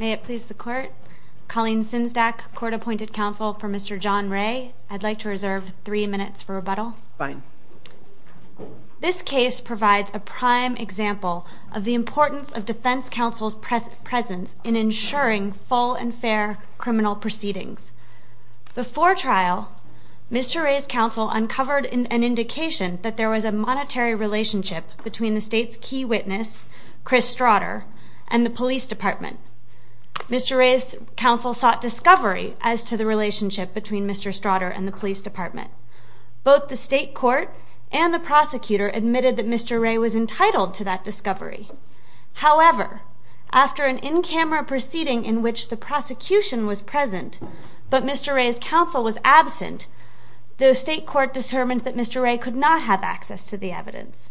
May it please the court, Colleen Sinsdack, court appointed counsel for Mr. John Ray. I'd like to reserve three minutes for rebuttal. This case provides a prime example of the importance of defense counsel's presence in ensuring full and fair criminal proceedings. Before trial, Mr. Ray's counsel uncovered an indication that there was a monetary relationship between the state's key witness, Chris Strodder, and the police department. Mr. Ray's counsel sought discovery as to the relationship between Mr. Strodder and the police department. Both the state court and the prosecutor admitted that Mr. Ray was entitled to that discovery. However, after an in-camera proceeding in which the prosecution was present but Mr. Ray's counsel was absent, the state court determined that Mr. Ray could not have access to the evidence.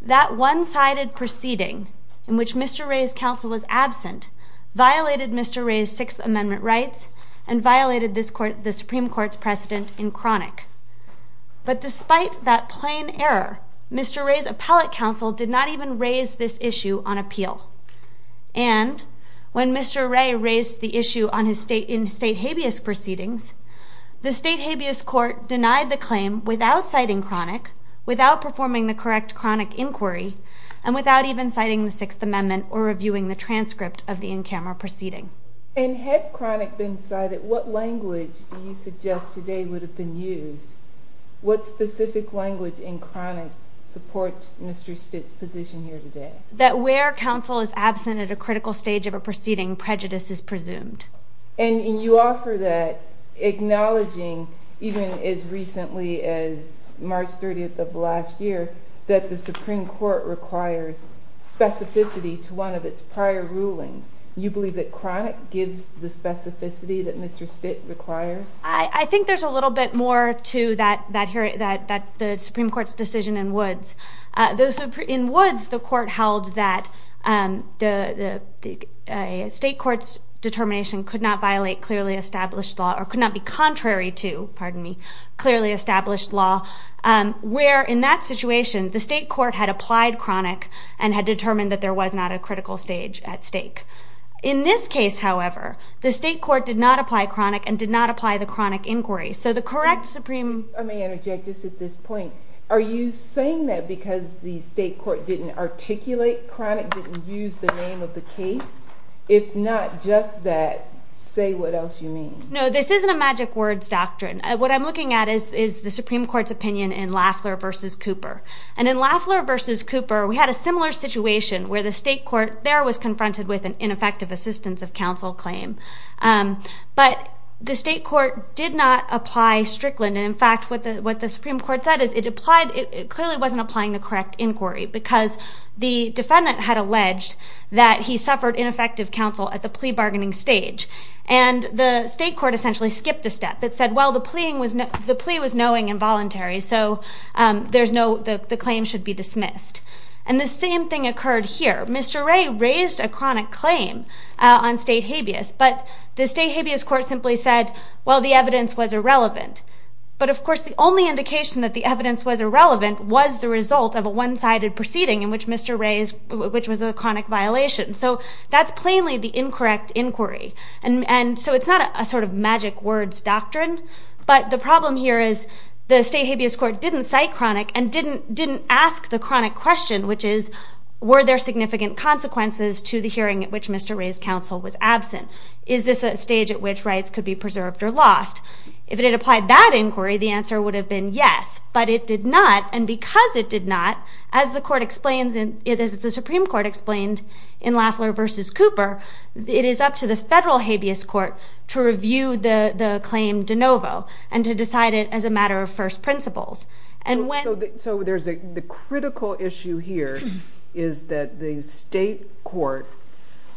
That one-sided proceeding in which Mr. Ray's counsel was absent violated Mr. Ray's Sixth Amendment rights and violated the Supreme Court's precedent in chronic. But despite that plain error, Mr. Ray's appellate counsel did not even raise this issue on appeal. And when Mr. Ray raised the issue in state habeas proceedings, the state habeas court denied the claim without citing chronic, without performing the correct chronic inquiry, and without even citing the Sixth Amendment or reviewing the transcript of the in-camera proceeding. And had chronic been cited, what language do you suggest today would have been used? What specific language in chronic supports Mr. Stitt's position here today? That where counsel is absent at a critical stage of a proceeding, prejudice is presumed. And you offer that, acknowledging even as recently as March 30th of last year, that the Supreme Court requires specificity to one of its prior rulings. You believe that chronic gives the specificity that Mr. Stitt requires? I think there's a little bit more to the Supreme Court's decision in Woods. In Woods, the court held that the state court's determination could not violate clearly established law or could not be contrary to, pardon me, clearly established law. Where in that situation, the state court had applied chronic and had determined that there was not a critical stage at stake. In this case, however, the state court did not apply chronic and did not apply the chronic inquiry. So the correct Supreme... I may interject just at this point. Are you saying that because the state court didn't articulate chronic, didn't use the name of the case? If not just that, say what else you mean. No, this isn't a magic words doctrine. What I'm looking at is the Supreme Court's opinion in Lafler v. Cooper. And in Lafler v. Cooper, we had a similar situation where the state court there was confronted with an ineffective assistance of counsel claim. But the state court did not apply Strickland. And, in fact, what the Supreme Court said is it clearly wasn't applying the correct inquiry because the defendant had alleged that he suffered ineffective counsel at the plea bargaining stage. And the state court essentially skipped a step. It said, well, the plea was knowing and voluntary. So the claim should be dismissed. And the same thing occurred here. Mr. Ray raised a chronic claim on state habeas, but the state habeas court simply said, well, the evidence was irrelevant. But, of course, the only indication that the evidence was irrelevant was the result of a one-sided proceeding in which Mr. Ray's... which was a chronic violation. So that's plainly the incorrect inquiry. And so it's not a sort of magic words doctrine. But the problem here is the state habeas court didn't cite chronic and didn't ask the chronic question, which is, were there significant consequences to the hearing at which Mr. Ray's counsel was absent? Is this a stage at which rights could be preserved or lost? If it had applied that inquiry, the answer would have been yes. But it did not. And because it did not, as the Supreme Court explained in Lafler v. Cooper, it is up to the federal habeas court to review the claim de novo and to decide it as a matter of first principles. So the critical issue here is that the state court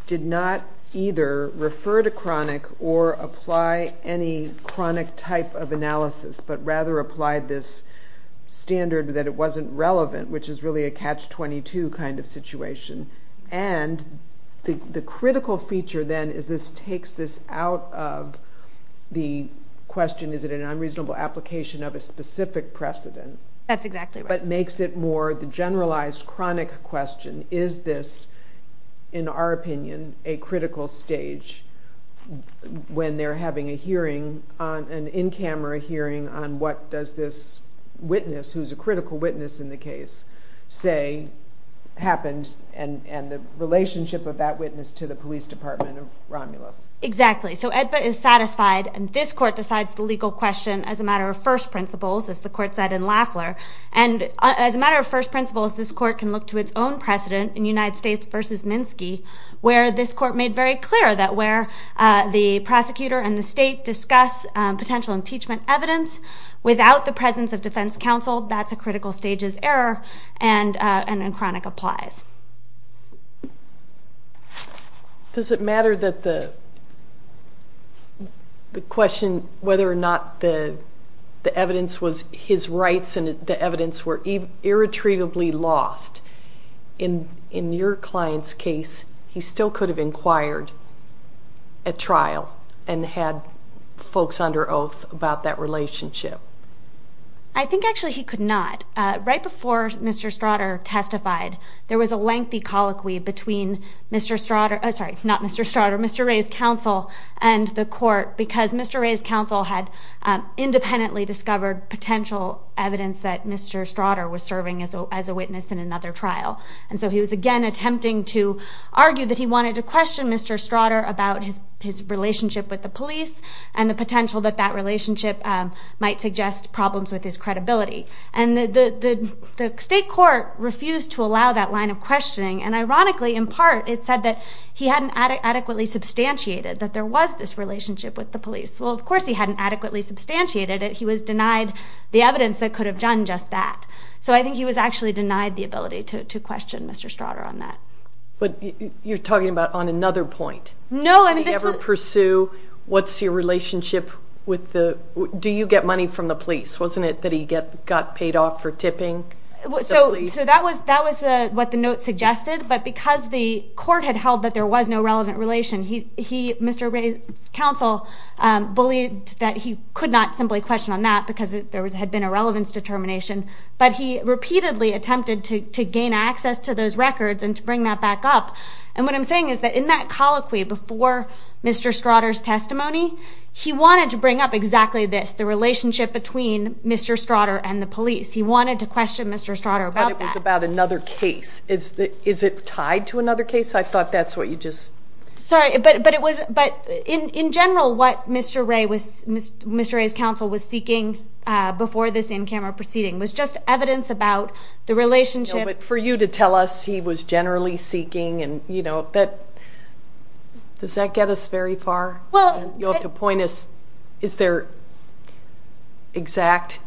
did not either refer to chronic or apply any chronic type of analysis, but rather applied this standard that it wasn't relevant, which is really a catch-22 kind of situation. And the critical feature then is this takes this out of the question, is it an unreasonable application of a specific precedent? That's exactly right. But makes it more the generalized chronic question, is this, in our opinion, a critical stage when they're having an in-camera hearing on what does this witness, who's a critical witness in the case, say happened and the relationship of that witness to the police department of Romulus? Exactly. So AEDPA is satisfied. And this court decides the legal question as a matter of first principles, as the court said in Lafler. And as a matter of first principles, this court can look to its own precedent in United States v. Minsky, where this court made very clear that where the prosecutor and the state discuss potential impeachment evidence without the presence of defense counsel, that's a critical stages error and a chronic applies. Does it matter that the question whether or not the evidence was his rights and the evidence were irretrievably lost? In your client's case, he still could have inquired at trial and had folks under oath about that relationship. I think actually he could not. Right before Mr. Stratter testified, there was a lengthy colloquy between Mr. Stratter, sorry, not Mr. Stratter, Mr. Ray's counsel and the court because Mr. Ray's counsel had independently discovered potential evidence that Mr. Stratter was serving as a witness in another trial. And so he was again attempting to argue that he wanted to question Mr. Stratter about his relationship with the police and the potential that that relationship might suggest problems with his credibility. And the state court refused to allow that line of questioning. And ironically, in part, it said that he hadn't adequately substantiated that there was this relationship with the police. Well, of course, he hadn't adequately substantiated it. He was denied the evidence that could have done just that. So I think he was actually denied the ability to question Mr. Stratter on that. But you're talking about on another point. No. What's your relationship with the do you get money from the police? Wasn't it that he got paid off for tipping? So that was that was what the note suggested. But because the court had held that there was no relevant relation, he he Mr. Ray's counsel believed that he could not simply question on that because there had been a relevance determination. But he repeatedly attempted to gain access to those records and to bring that back up. And what I'm saying is that in that colloquy before Mr. Stratter's testimony, he wanted to bring up exactly this, the relationship between Mr. Stratter and the police. He wanted to question Mr. Stratter about it was about another case. Is that is it tied to another case? I thought that's what you just sorry. But but it was. But in general, what Mr. Ray was Mr. Ray's counsel was seeking before this in-camera proceeding was just evidence about the relationship. But for you to tell us he was generally seeking and you know that. Does that get us very far? Well, you have to point us. Is there exact?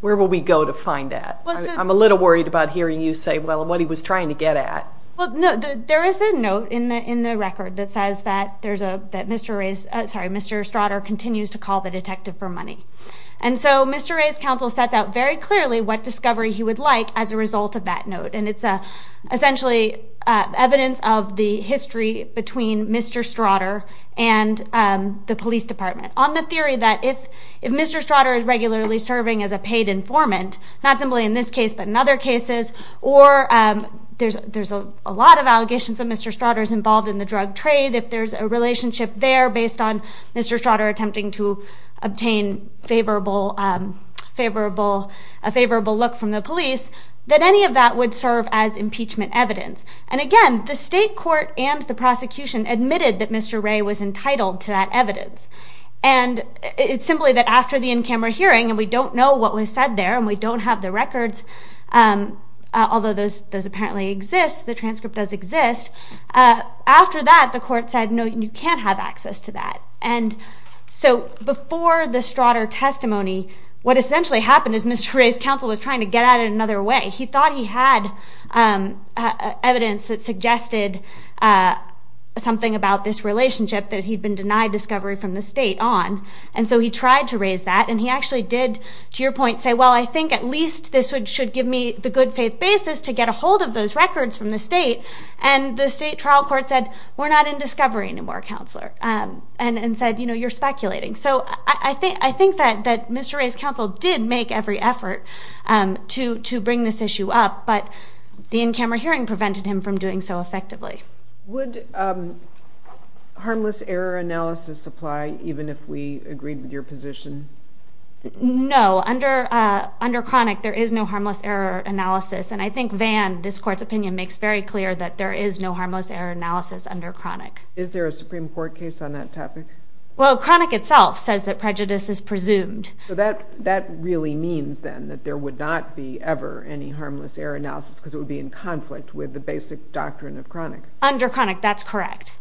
Where will we go to find that? I'm a little worried about hearing you say, well, what he was trying to get at. Well, no, there is a note in the in the record that says that there's a that Mr. Ray's sorry, Mr. Stratter continues to call the detective for money. And so Mr. Ray's counsel sets out very clearly what discovery he would like as a result of that note. And it's essentially evidence of the history between Mr. Stratter and the police department on the theory that if if Mr. Stratter is regularly serving as a paid informant, not simply in this case, but in other cases, or there's there's a lot of allegations that Mr. Stratter is involved in the drug trade. If there's a relationship there based on Mr. Stratter attempting to obtain favorable, favorable, a favorable look from the police, that any of that would serve as impeachment evidence. And again, the state court and the prosecution admitted that Mr. Ray was entitled to that evidence. And it's simply that after the in-camera hearing and we don't know what was said there and we don't have the records, although those those apparently exist, the transcript does exist. After that, the court said, no, you can't have access to that. And so before the Stratter testimony, what essentially happened is Mr. Ray's counsel was trying to get at it another way. He thought he had evidence that suggested something about this relationship that he'd been denied discovery from the state on. And so he tried to raise that and he actually did, to your point, say, well, I think at least this would should give me the good faith basis to get a hold of those records from the state. And the state trial court said, we're not in discovery anymore. Counselor and said, you know, you're speculating. So I think I think that that Mr. Ray's counsel did make every effort to to bring this issue up. But the in-camera hearing prevented him from doing so effectively. Would harmless error analysis apply even if we agreed with your position? No, under under chronic, there is no harmless error analysis. And I think Van, this court's opinion makes very clear that there is no harmless error analysis under chronic. Is there a Supreme Court case on that topic? Well, chronic itself says that prejudice is presumed. So that that really means then that there would not be ever any harmless error analysis because it would be in conflict with the basic doctrine of chronic. Under chronic, that's correct.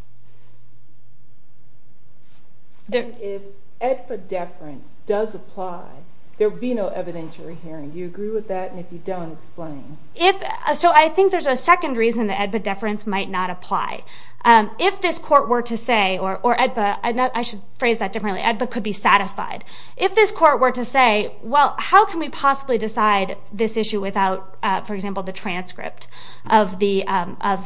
If EDPA deference does apply, there would be no evidentiary hearing. Do you agree with that? And if you don't, explain. So I think there's a second reason that EDPA deference might not apply. If this court were to say, or EDPA, I should phrase that differently, EDPA could be satisfied. If this court were to say, well, how can we possibly decide this issue without, for example, the transcript of the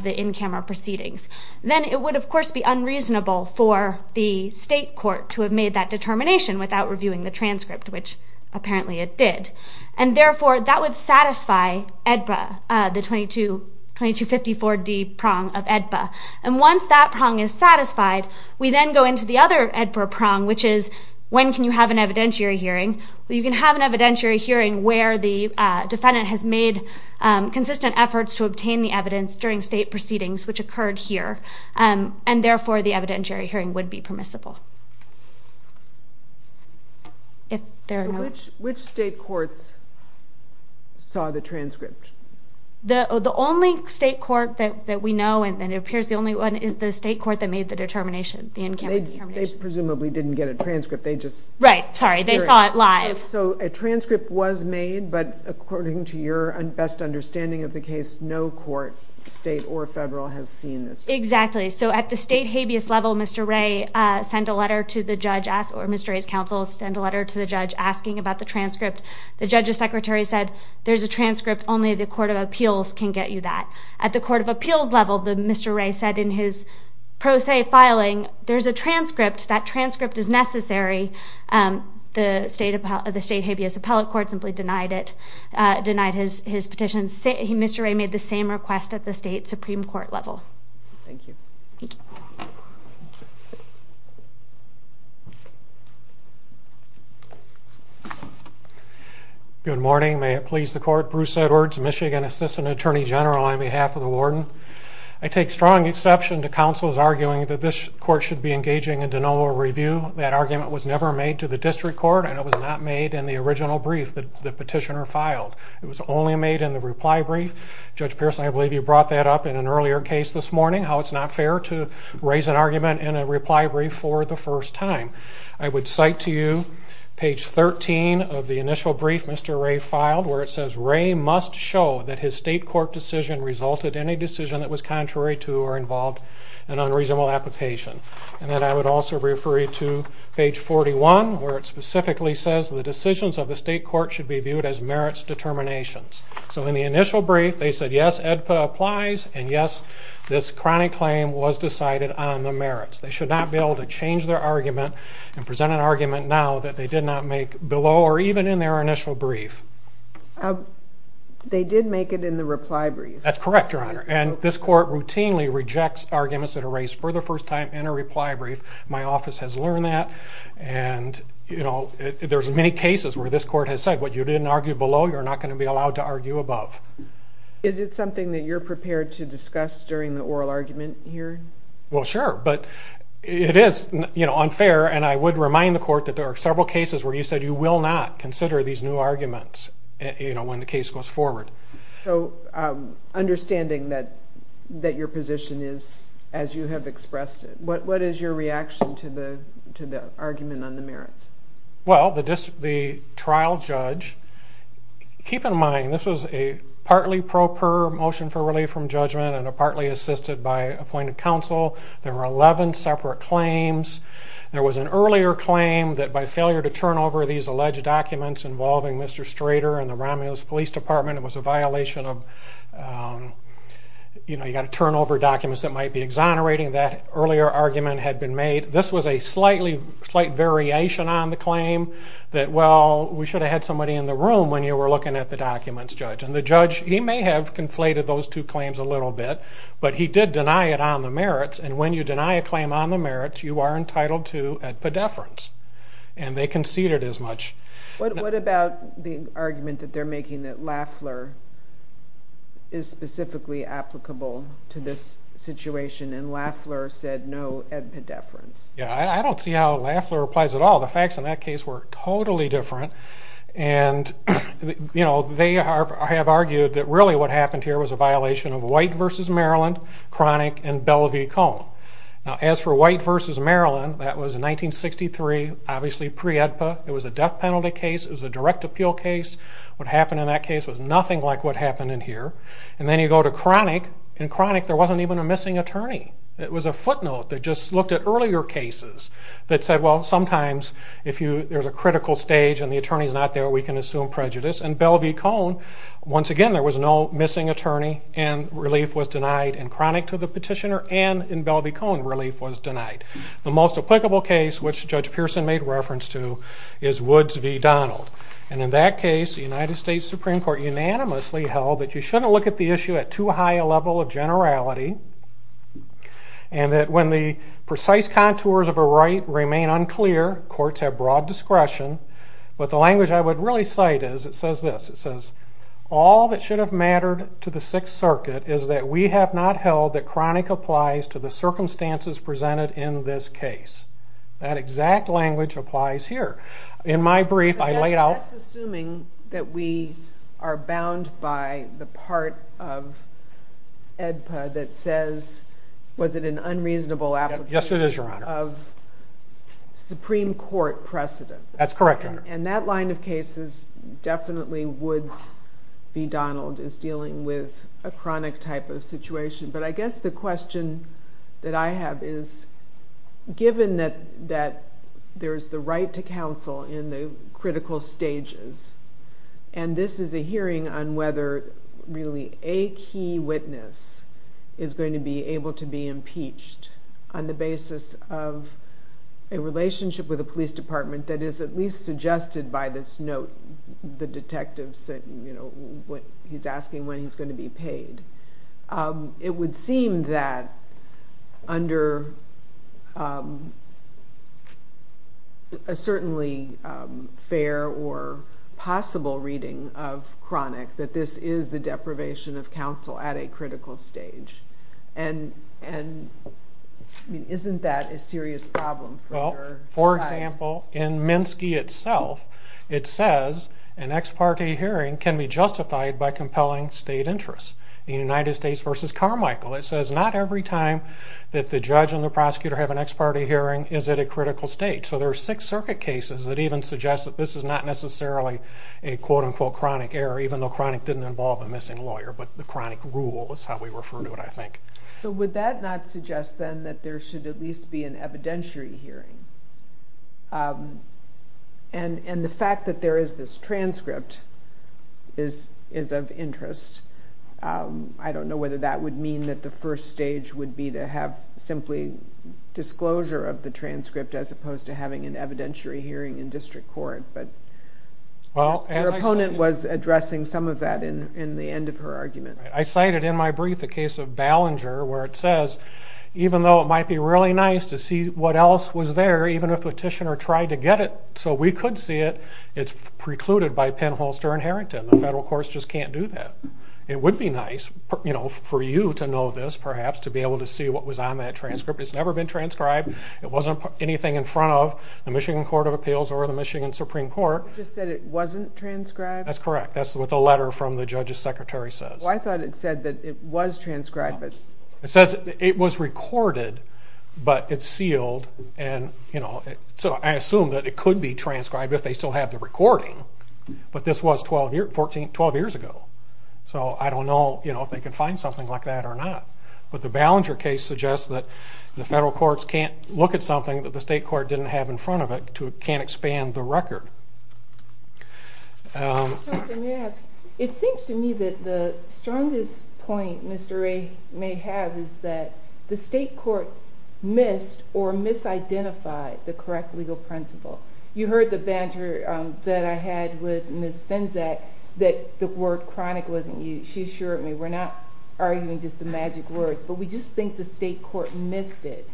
in-camera proceedings? Then it would, of course, be unreasonable for the state court to have made that determination without reviewing the transcript, which apparently it did. And therefore, that would satisfy EDPA, the 2254D prong of EDPA. And once that prong is satisfied, we then go into the other EDPA prong, which is, when can you have an evidentiary hearing? Well, you can have an evidentiary hearing where the defendant has made consistent efforts to obtain the evidence during state proceedings, which occurred here. And therefore, the evidentiary hearing would be permissible. So which state courts saw the transcript? The only state court that we know, and it appears the only one, is the state court that made the determination, the in-camera determination. They presumably didn't get a transcript. Right, sorry. They saw it live. So a transcript was made, but according to your best understanding of the case, no court, state or federal, has seen this. Exactly. So at the state habeas level, Mr. Wray sent a letter to the judge, or Mr. Wray's counsel sent a letter to the judge asking about the transcript. The judge's secretary said, there's a transcript. Only the court of appeals can get you that. At the court of appeals level, Mr. Wray said in his pro se filing, there's a transcript, that transcript is necessary. The state habeas appellate court simply denied it, denied his petition. Mr. Wray made the same request at the state Supreme Court level. Thank you. Thank you. Good morning. May it please the Court, Bruce Edwards, Michigan Assistant Attorney General on behalf of the warden. I take strong exception to counsel's arguing that this court should be engaging in de novo review. That argument was never made to the district court, and it was not made in the original brief that the petitioner filed. It was only made in the reply brief. Judge Pearson, I believe you brought that up in an earlier case this morning, how it's not fair to raise an argument in a reply brief for the first time. I would cite to you page 13 of the initial brief Mr. Wray filed, where it says Wray must show that his state court decision resulted in a decision that was contrary to or involved an unreasonable application. And then I would also refer you to page 41, where it specifically says the decisions of the state court should be viewed as merits determinations. So in the initial brief, they said yes, AEDPA applies, and yes, this chronic claim was decided on the merits. They should not be able to change their argument and present an argument now that they did not make below or even in their initial brief. They did make it in the reply brief. That's correct, Your Honor, and this court routinely rejects arguments that are raised for the first time in a reply brief. My office has learned that, and, you know, there's many cases where this court has said what you didn't argue below, you're not going to be allowed to argue above. Is it something that you're prepared to discuss during the oral argument here? Well, sure, but it is, you know, unfair, and I would remind the court that there are several cases where you said you will not consider these new arguments, you know, when the case goes forward. So understanding that your position is as you have expressed it, what is your reaction to the argument on the merits? Well, the trial judge, keep in mind, this was a partly pro per motion for relief from judgment and partly assisted by appointed counsel. There were 11 separate claims. There was an earlier claim that by failure to turn over these alleged documents involving Mr. Strader and the Romulus Police Department, it was a violation of, you know, you've got to turn over documents that might be exonerating. That earlier argument had been made. This was a slight variation on the claim that, well, we should have had somebody in the room when you were looking at the documents, Judge, and the judge, he may have conflated those two claims a little bit, but he did deny it on the merits, and when you deny a claim on the merits, you are entitled to a pedeference, and they conceded as much. What about the argument that they're making that Lafleur is specifically applicable to this situation, and Lafleur said no pedeference? Yeah, I don't see how Lafleur applies at all. The facts in that case were totally different, and, you know, they have argued that really what happened here was a violation of White v. Maryland, Cronic, and Belle V. Cohn. Now, as for White v. Maryland, that was in 1963, obviously pre-EDPA. It was a death penalty case. It was a direct appeal case. What happened in that case was nothing like what happened in here, and then you go to Cronic. In Cronic, there wasn't even a missing attorney. It was a footnote that just looked at earlier cases that said, well, sometimes, if there's a critical stage and the attorney's not there, we can assume prejudice. In Belle v. Cohn, once again, there was no missing attorney, and relief was denied in Cronic to the petitioner and in Belle v. Cohn relief was denied. The most applicable case, which Judge Pearson made reference to, is Woods v. Donald, and in that case, the United States Supreme Court unanimously held that you shouldn't look at the issue at too high a level of generality and that when the precise contours of a right remain unclear, courts have broad discretion. But the language I would really cite is, it says this, it says, all that should have mattered to the Sixth Circuit is that we have not held that Cronic applies to the circumstances presented in this case. That exact language applies here. In my brief, I laid out... But that's assuming that we are bound by the part of EDPA that says, was it an unreasonable application... Yes, it is, Your Honor. ...of Supreme Court precedent. That's correct, Your Honor. And that line of cases, definitely Woods v. Donald is dealing with a Cronic type of situation. But I guess the question that I have is, given that there's the right to counsel in the critical stages, and this is a hearing on whether really a key witness is going to be able to be impeached on the basis of a relationship with a police department that is at least suggested by this note, the detective's asking when he's going to be paid, it would seem that under a certainly fair or possible reading of Cronic that this is the deprivation of counsel at a critical stage. And isn't that a serious problem for your side? Well, for example, in Minsky itself, it says an ex parte hearing can be justified by compelling state interests. In United States v. Carmichael, it says not every time that the judge and the prosecutor have an ex parte hearing is at a critical stage. So there are six circuit cases that even suggest that this is not necessarily a quote-unquote Cronic error, even though Cronic didn't involve a missing lawyer, but the Cronic rule is how we refer to it, I think. So would that not suggest, then, that there should at least be an evidentiary hearing? And the fact that there is this transcript is of interest. I don't know whether that would mean that the first stage would be to have simply disclosure of the transcript as opposed to having an evidentiary hearing in district court, but your opponent was addressing some of that in the end of her argument. I cited in my brief the case of Ballinger, where it says even though it might be really nice to see what else was there, even if a petitioner tried to get it so we could see it, it's precluded by Penn, Holster, and Harrington. The federal courts just can't do that. It would be nice for you to know this, perhaps, to be able to see what was on that transcript. It's never been transcribed. It wasn't anything in front of the Michigan Court of Appeals or the Michigan Supreme Court. You just said it wasn't transcribed? That's correct. That's what the letter from the judge's secretary says. I thought it said that it was transcribed. It says it was recorded, but it's sealed. So I assume that it could be transcribed if they still have the recording, but this was 12 years ago, so I don't know if they can find something like that or not. But the Ballinger case suggests that the federal courts can't look at something that the state court didn't have in front of it or can't expand the record. Mr. Thompson, may I ask? It seems to me that the strongest point Mr. Ray may have is that the state court missed or misidentified the correct legal principle. You heard the banter that I had with Ms. Senzak that the word chronic wasn't used. She assured me we're not arguing just the magic word, but we just think the state court missed it.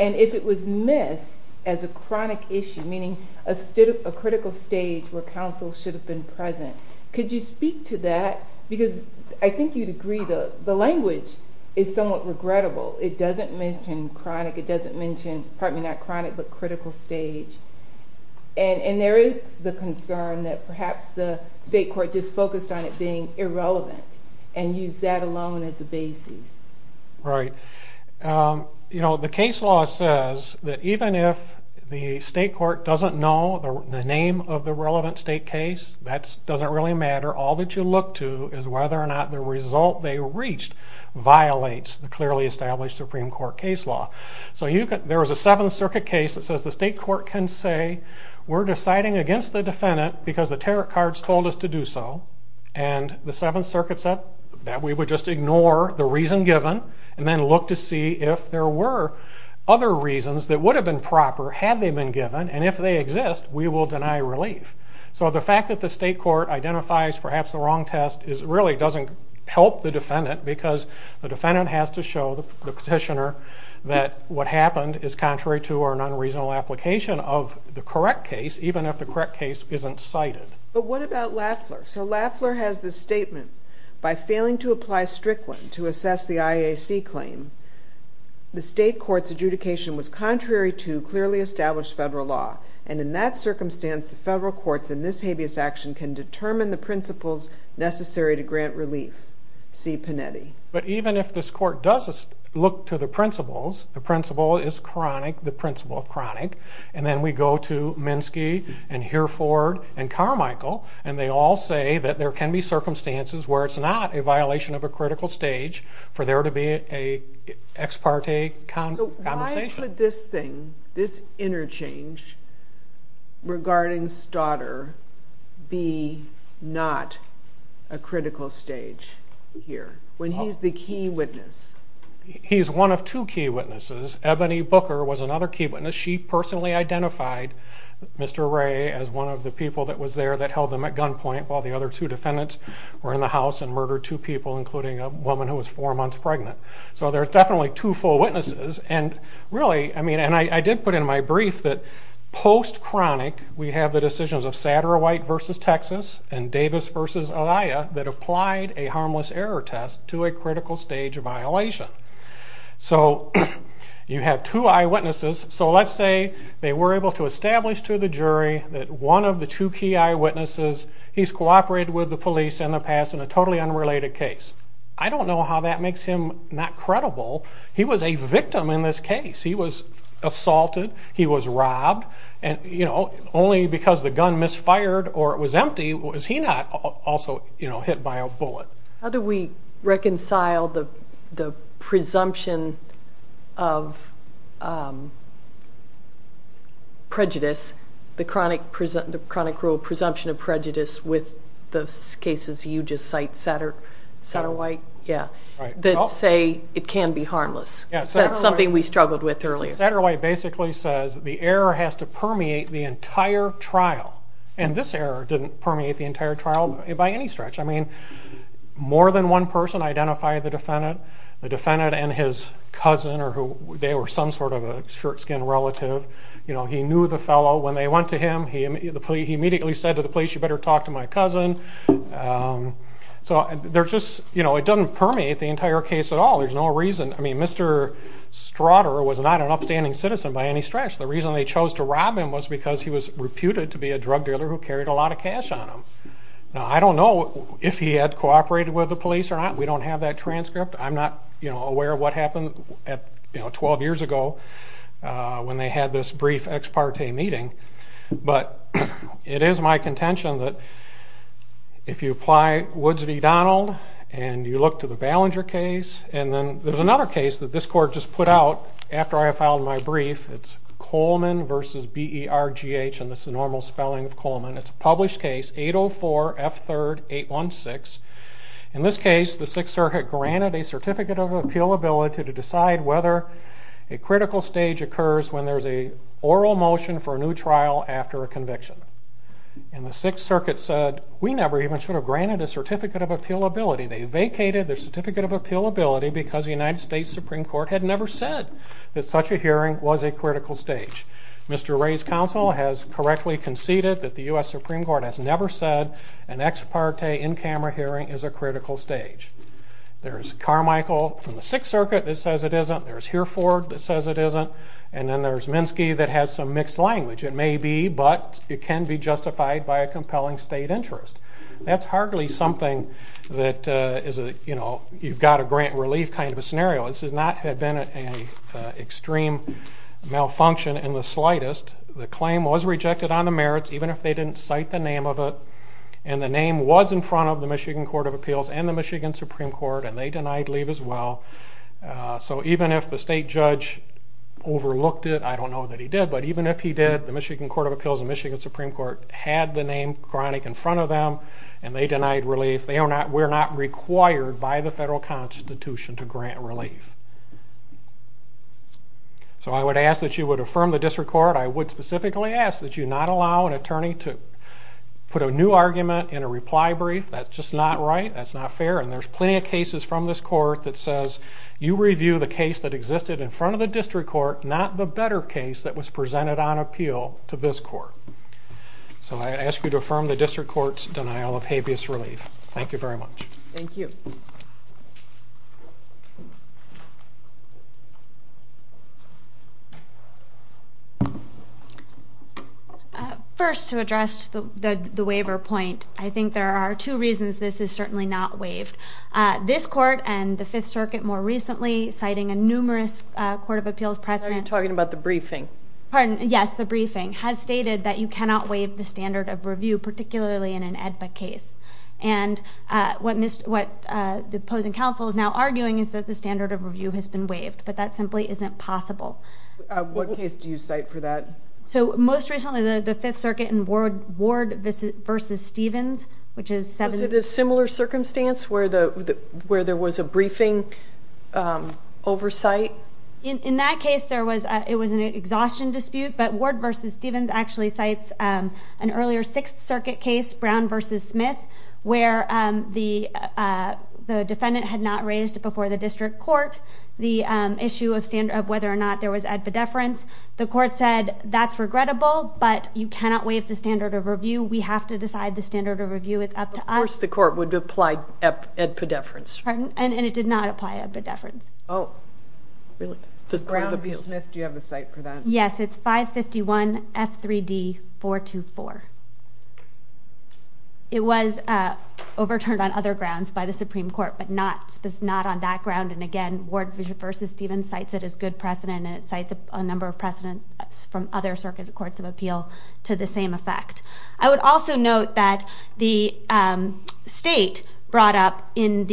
And if it was missed as a chronic issue, meaning a critical stage where counsel should have been present, could you speak to that? Because I think you'd agree the language is somewhat regrettable. It doesn't mention chronic. It doesn't mention, pardon me, not chronic, but critical stage. And there is the concern that perhaps the state court just focused on it being irrelevant and used that alone as a basis. Right. You know, the case law says that even if the state court doesn't know the name of the relevant state case, that doesn't really matter. All that you look to is whether or not the result they reached violates the clearly established Supreme Court case law. So there was a Seventh Circuit case that says the state court can say, we're deciding against the defendant because the tariff cards told us to do so, and the Seventh Circuit said that we would just ignore the reason given and then look to see if there were other reasons that would have been proper had they been given, and if they exist, we will deny relief. So the fact that the state court identifies perhaps the wrong test really doesn't help the defendant because the defendant has to show the petitioner that what happened is contrary to our non-reasonable application of the correct case, even if the correct case isn't cited. But what about Lafler? So Lafler has this statement, By failing to apply Strickland to assess the IAC claim, the state court's adjudication was contrary to clearly established federal law, and in that circumstance, the federal courts in this habeas action can determine the principles necessary to grant relief. See Panetti. But even if this court does look to the principles, the principle is chronic, the principle of chronic, and then we go to Minsky and Hereford and Carmichael, and they all say that there can be circumstances where it's not a violation of a critical stage for there to be an ex parte conversation. So why could this thing, this interchange, regarding Staudter, be not a critical stage here, when he's the key witness? He's one of two key witnesses. Ebony Booker was another key witness. She personally identified Mr. Ray as one of the people that was there that held them at gunpoint while the other two defendants were in the house and murdered two people, including a woman who was four months pregnant. So there are definitely two full witnesses, and really, I mean, and I did put in my brief that post-chronic, we have the decisions of Satterwhite v. Texas and Davis v. Alaia that applied a harmless error test to a critical stage violation. So you have two eyewitnesses. So let's say they were able to establish to the jury that one of the two key eyewitnesses, he's cooperated with the police in the past in a totally unrelated case. I don't know how that makes him not credible. He was a victim in this case. He was assaulted, he was robbed, and only because the gun misfired or it was empty, was he not also hit by a bullet. How do we reconcile the presumption of prejudice, the chronic rule of presumption of prejudice with those cases you just cite, Satterwhite, that say it can be harmless? That's something we struggled with earlier. Satterwhite basically says the error has to permeate the entire trial, and this error didn't permeate the entire trial by any stretch. I mean, more than one person identified the defendant, the defendant and his cousin, or they were some sort of a shirt-skin relative. He knew the fellow. When they went to him, he immediately said to the police, you better talk to my cousin. So it doesn't permeate the entire case at all. There's no reason. I mean, Mr. Strutter was not an upstanding citizen by any stretch. The reason they chose to rob him was because he was reputed to be a drug dealer who carried a lot of cash on him. Now, I don't know if he had cooperated with the police or not. We don't have that transcript. I'm not aware of what happened 12 years ago when they had this brief ex parte meeting, but it is my contention that if you apply Woods v. Donald and you look to the Ballinger case, and then there's another case that this court just put out after I filed my brief. It's Coleman versus B-E-R-G-H, and that's the normal spelling of Coleman. It's a published case, 804-F3-816. In this case, the Sixth Circuit granted a certificate of appealability to decide whether a critical stage occurs when there's an oral motion for a new trial after a conviction. And the Sixth Circuit said, we never even should have granted a certificate of appealability. They vacated their certificate of appealability because the United States Supreme Court had never said that such a hearing was a critical stage. Mr. Wray's counsel has correctly conceded that the U.S. Supreme Court has never said an ex parte in-camera hearing is a critical stage. There's Carmichael from the Sixth Circuit that says it isn't. There's Hereford that says it isn't. And then there's Minsky that has some mixed language. It may be, but it can be justified by a compelling state interest. That's hardly something that is a, you know, you've got to grant relief kind of a scenario. This has not been an extreme malfunction in the slightest. The claim was rejected on the merits, even if they didn't cite the name of it. And the name was in front of the Michigan Court of Appeals and the Michigan Supreme Court, and they denied leave as well. So even if the state judge overlooked it, I don't know that he did, but even if he did, the Michigan Court of Appeals and Michigan Supreme Court had the name chronic in front of them, and they denied relief. They are not, we're not required by the federal constitution to grant relief. So I would ask that you would affirm the district court. I would specifically ask that you not allow an attorney to put a new argument in a reply brief. That's just not right. That's not fair, and there's plenty of cases from this court that says you review the case that existed in front of the district court, not the better case that was presented on appeal to this court. So I ask you to affirm the district court's denial of habeas relief. Thank you very much. Thank you. First, to address the waiver point, I think there are two reasons this is certainly not waived. This court and the Fifth Circuit more recently, citing a numerous Court of Appeals precedent. Are you talking about the briefing? Pardon? Yes, the briefing has stated that you cannot waive the standard of review, particularly in an AEDPA case. And what the opposing counsel is now arguing is that the standard of review has been waived, but that simply isn't possible. What case do you cite for that? So most recently, the Fifth Circuit in Ward v. Stevens, which is 7- Was it a similar circumstance where there was a briefing oversight? In that case, it was an exhaustion dispute, but Ward v. Stevens actually cites an earlier Sixth Circuit case, Brown v. Smith, where the defendant had not raised before the district court the issue of whether or not there was edpedeference. The court said that's regrettable, but you cannot waive the standard of review. We have to decide the standard of review. It's up to us. Of course the court would apply edpedeference. Pardon? And it did not apply edpedeference. Oh, really? Brown v. Smith, do you have a cite for that? Yes, it's 551F3D424. It was overturned on other grounds by the Supreme Court, but not on that ground. And again, Ward v. Stevens cites it as good precedent, and it cites a number of precedents from other circuit courts of appeal to the same effect. I would also note that the state brought up in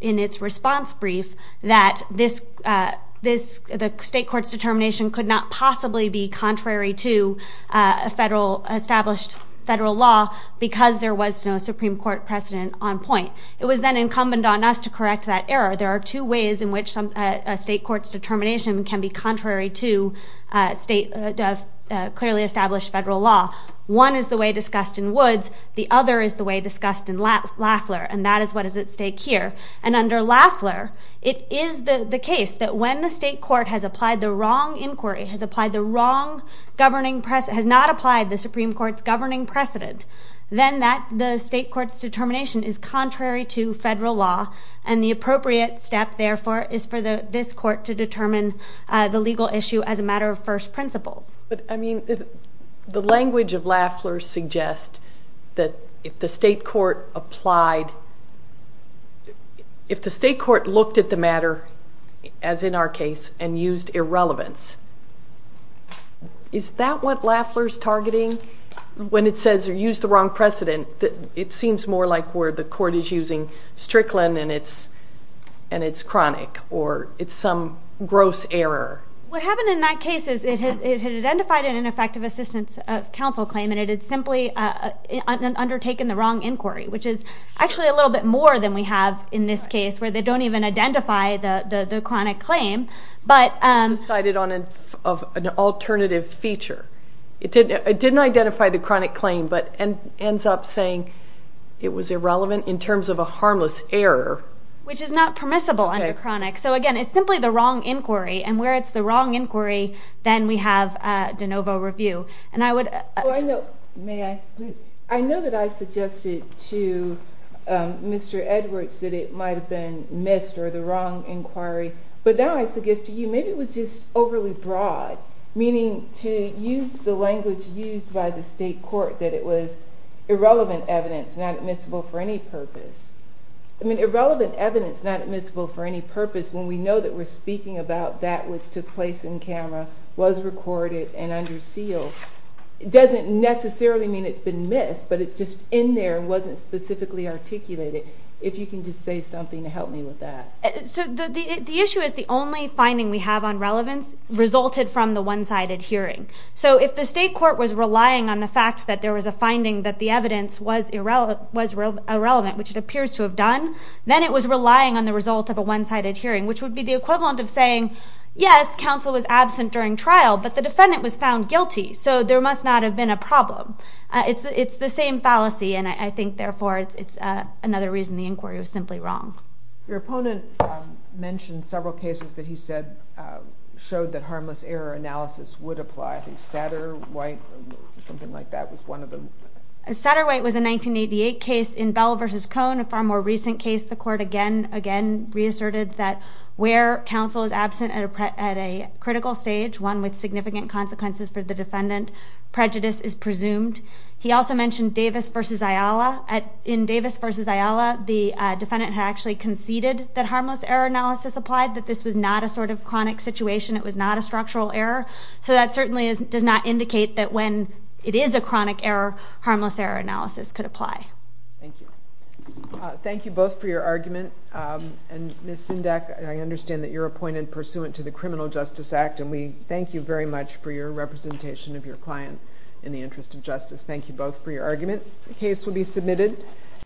its response brief that the state court's determination could not possibly be contrary to established federal law because there was no Supreme Court precedent on point. It was then incumbent on us to correct that error. There are two ways in which a state court's determination can be contrary to clearly established federal law. One is the way discussed in Woods. The other is the way discussed in Lafleur, and that is what is at stake here. And under Lafleur, it is the case that when the state court has applied the wrong inquiry, has applied the wrong governing precedent, has not applied the Supreme Court's governing precedent, then the state court's determination is contrary to federal law, and the appropriate step, therefore, is for this court to determine the legal issue as a matter of first principles. But, I mean, the language of Lafleur suggests that if the state court applied, if the state court looked at the matter, as in our case, and used irrelevance, is that what Lafleur's targeting when it says use the wrong precedent? It seems more like where the court is using Strickland and it's chronic or it's some gross error. What happened in that case is it had identified an ineffective assistance of counsel claim and it had simply undertaken the wrong inquiry, which is actually a little bit more than we have in this case where they don't even identify the chronic claim. But decided on an alternative feature. It didn't identify the chronic claim but ends up saying it was irrelevant in terms of a harmless error. Which is not permissible under chronic. So, again, it's simply the wrong inquiry, and where it's the wrong inquiry, then we have de novo review. I know that I suggested to Mr. Edwards that it might have been missed or the wrong inquiry, but now I suggest to you maybe it was just overly broad, meaning to use the language used by the state court that it was irrelevant evidence, not admissible for any purpose. Irrelevant evidence, not admissible for any purpose, when we know that we're speaking about that which took place in camera, was recorded and under seal, doesn't necessarily mean it's been missed, but it's just in there and wasn't specifically articulated. If you can just say something to help me with that. The issue is the only finding we have on relevance resulted from the one-sided hearing. So if the state court was relying on the fact that there was a finding that the evidence was irrelevant, which it appears to have done, then it was relying on the result of a one-sided hearing, which would be the equivalent of saying, yes, counsel was absent during trial, but the defendant was found guilty, so there must not have been a problem. It's the same fallacy, and I think, therefore, it's another reason the inquiry was simply wrong. Your opponent mentioned several cases that he said showed that harmless error analysis would apply. I think Satterwhite or something like that was one of them. Satterwhite was a 1988 case in Bell v. Cohn, a far more recent case. The court again reasserted that where counsel is absent at a critical stage, one with significant consequences for the defendant, prejudice is presumed. He also mentioned Davis v. Ayala. In Davis v. Ayala, the defendant had actually conceded that harmless error analysis applied, that this was not a sort of chronic situation. It was not a structural error. So that certainly does not indicate that when it is a chronic error, harmless error analysis could apply. Thank you. Thank you both for your argument. And Ms. Sindak, I understand that you're appointed pursuant to the Criminal Justice Act, and we thank you very much for your representation of your client in the interest of justice. Thank you both for your argument. The case will be submitted.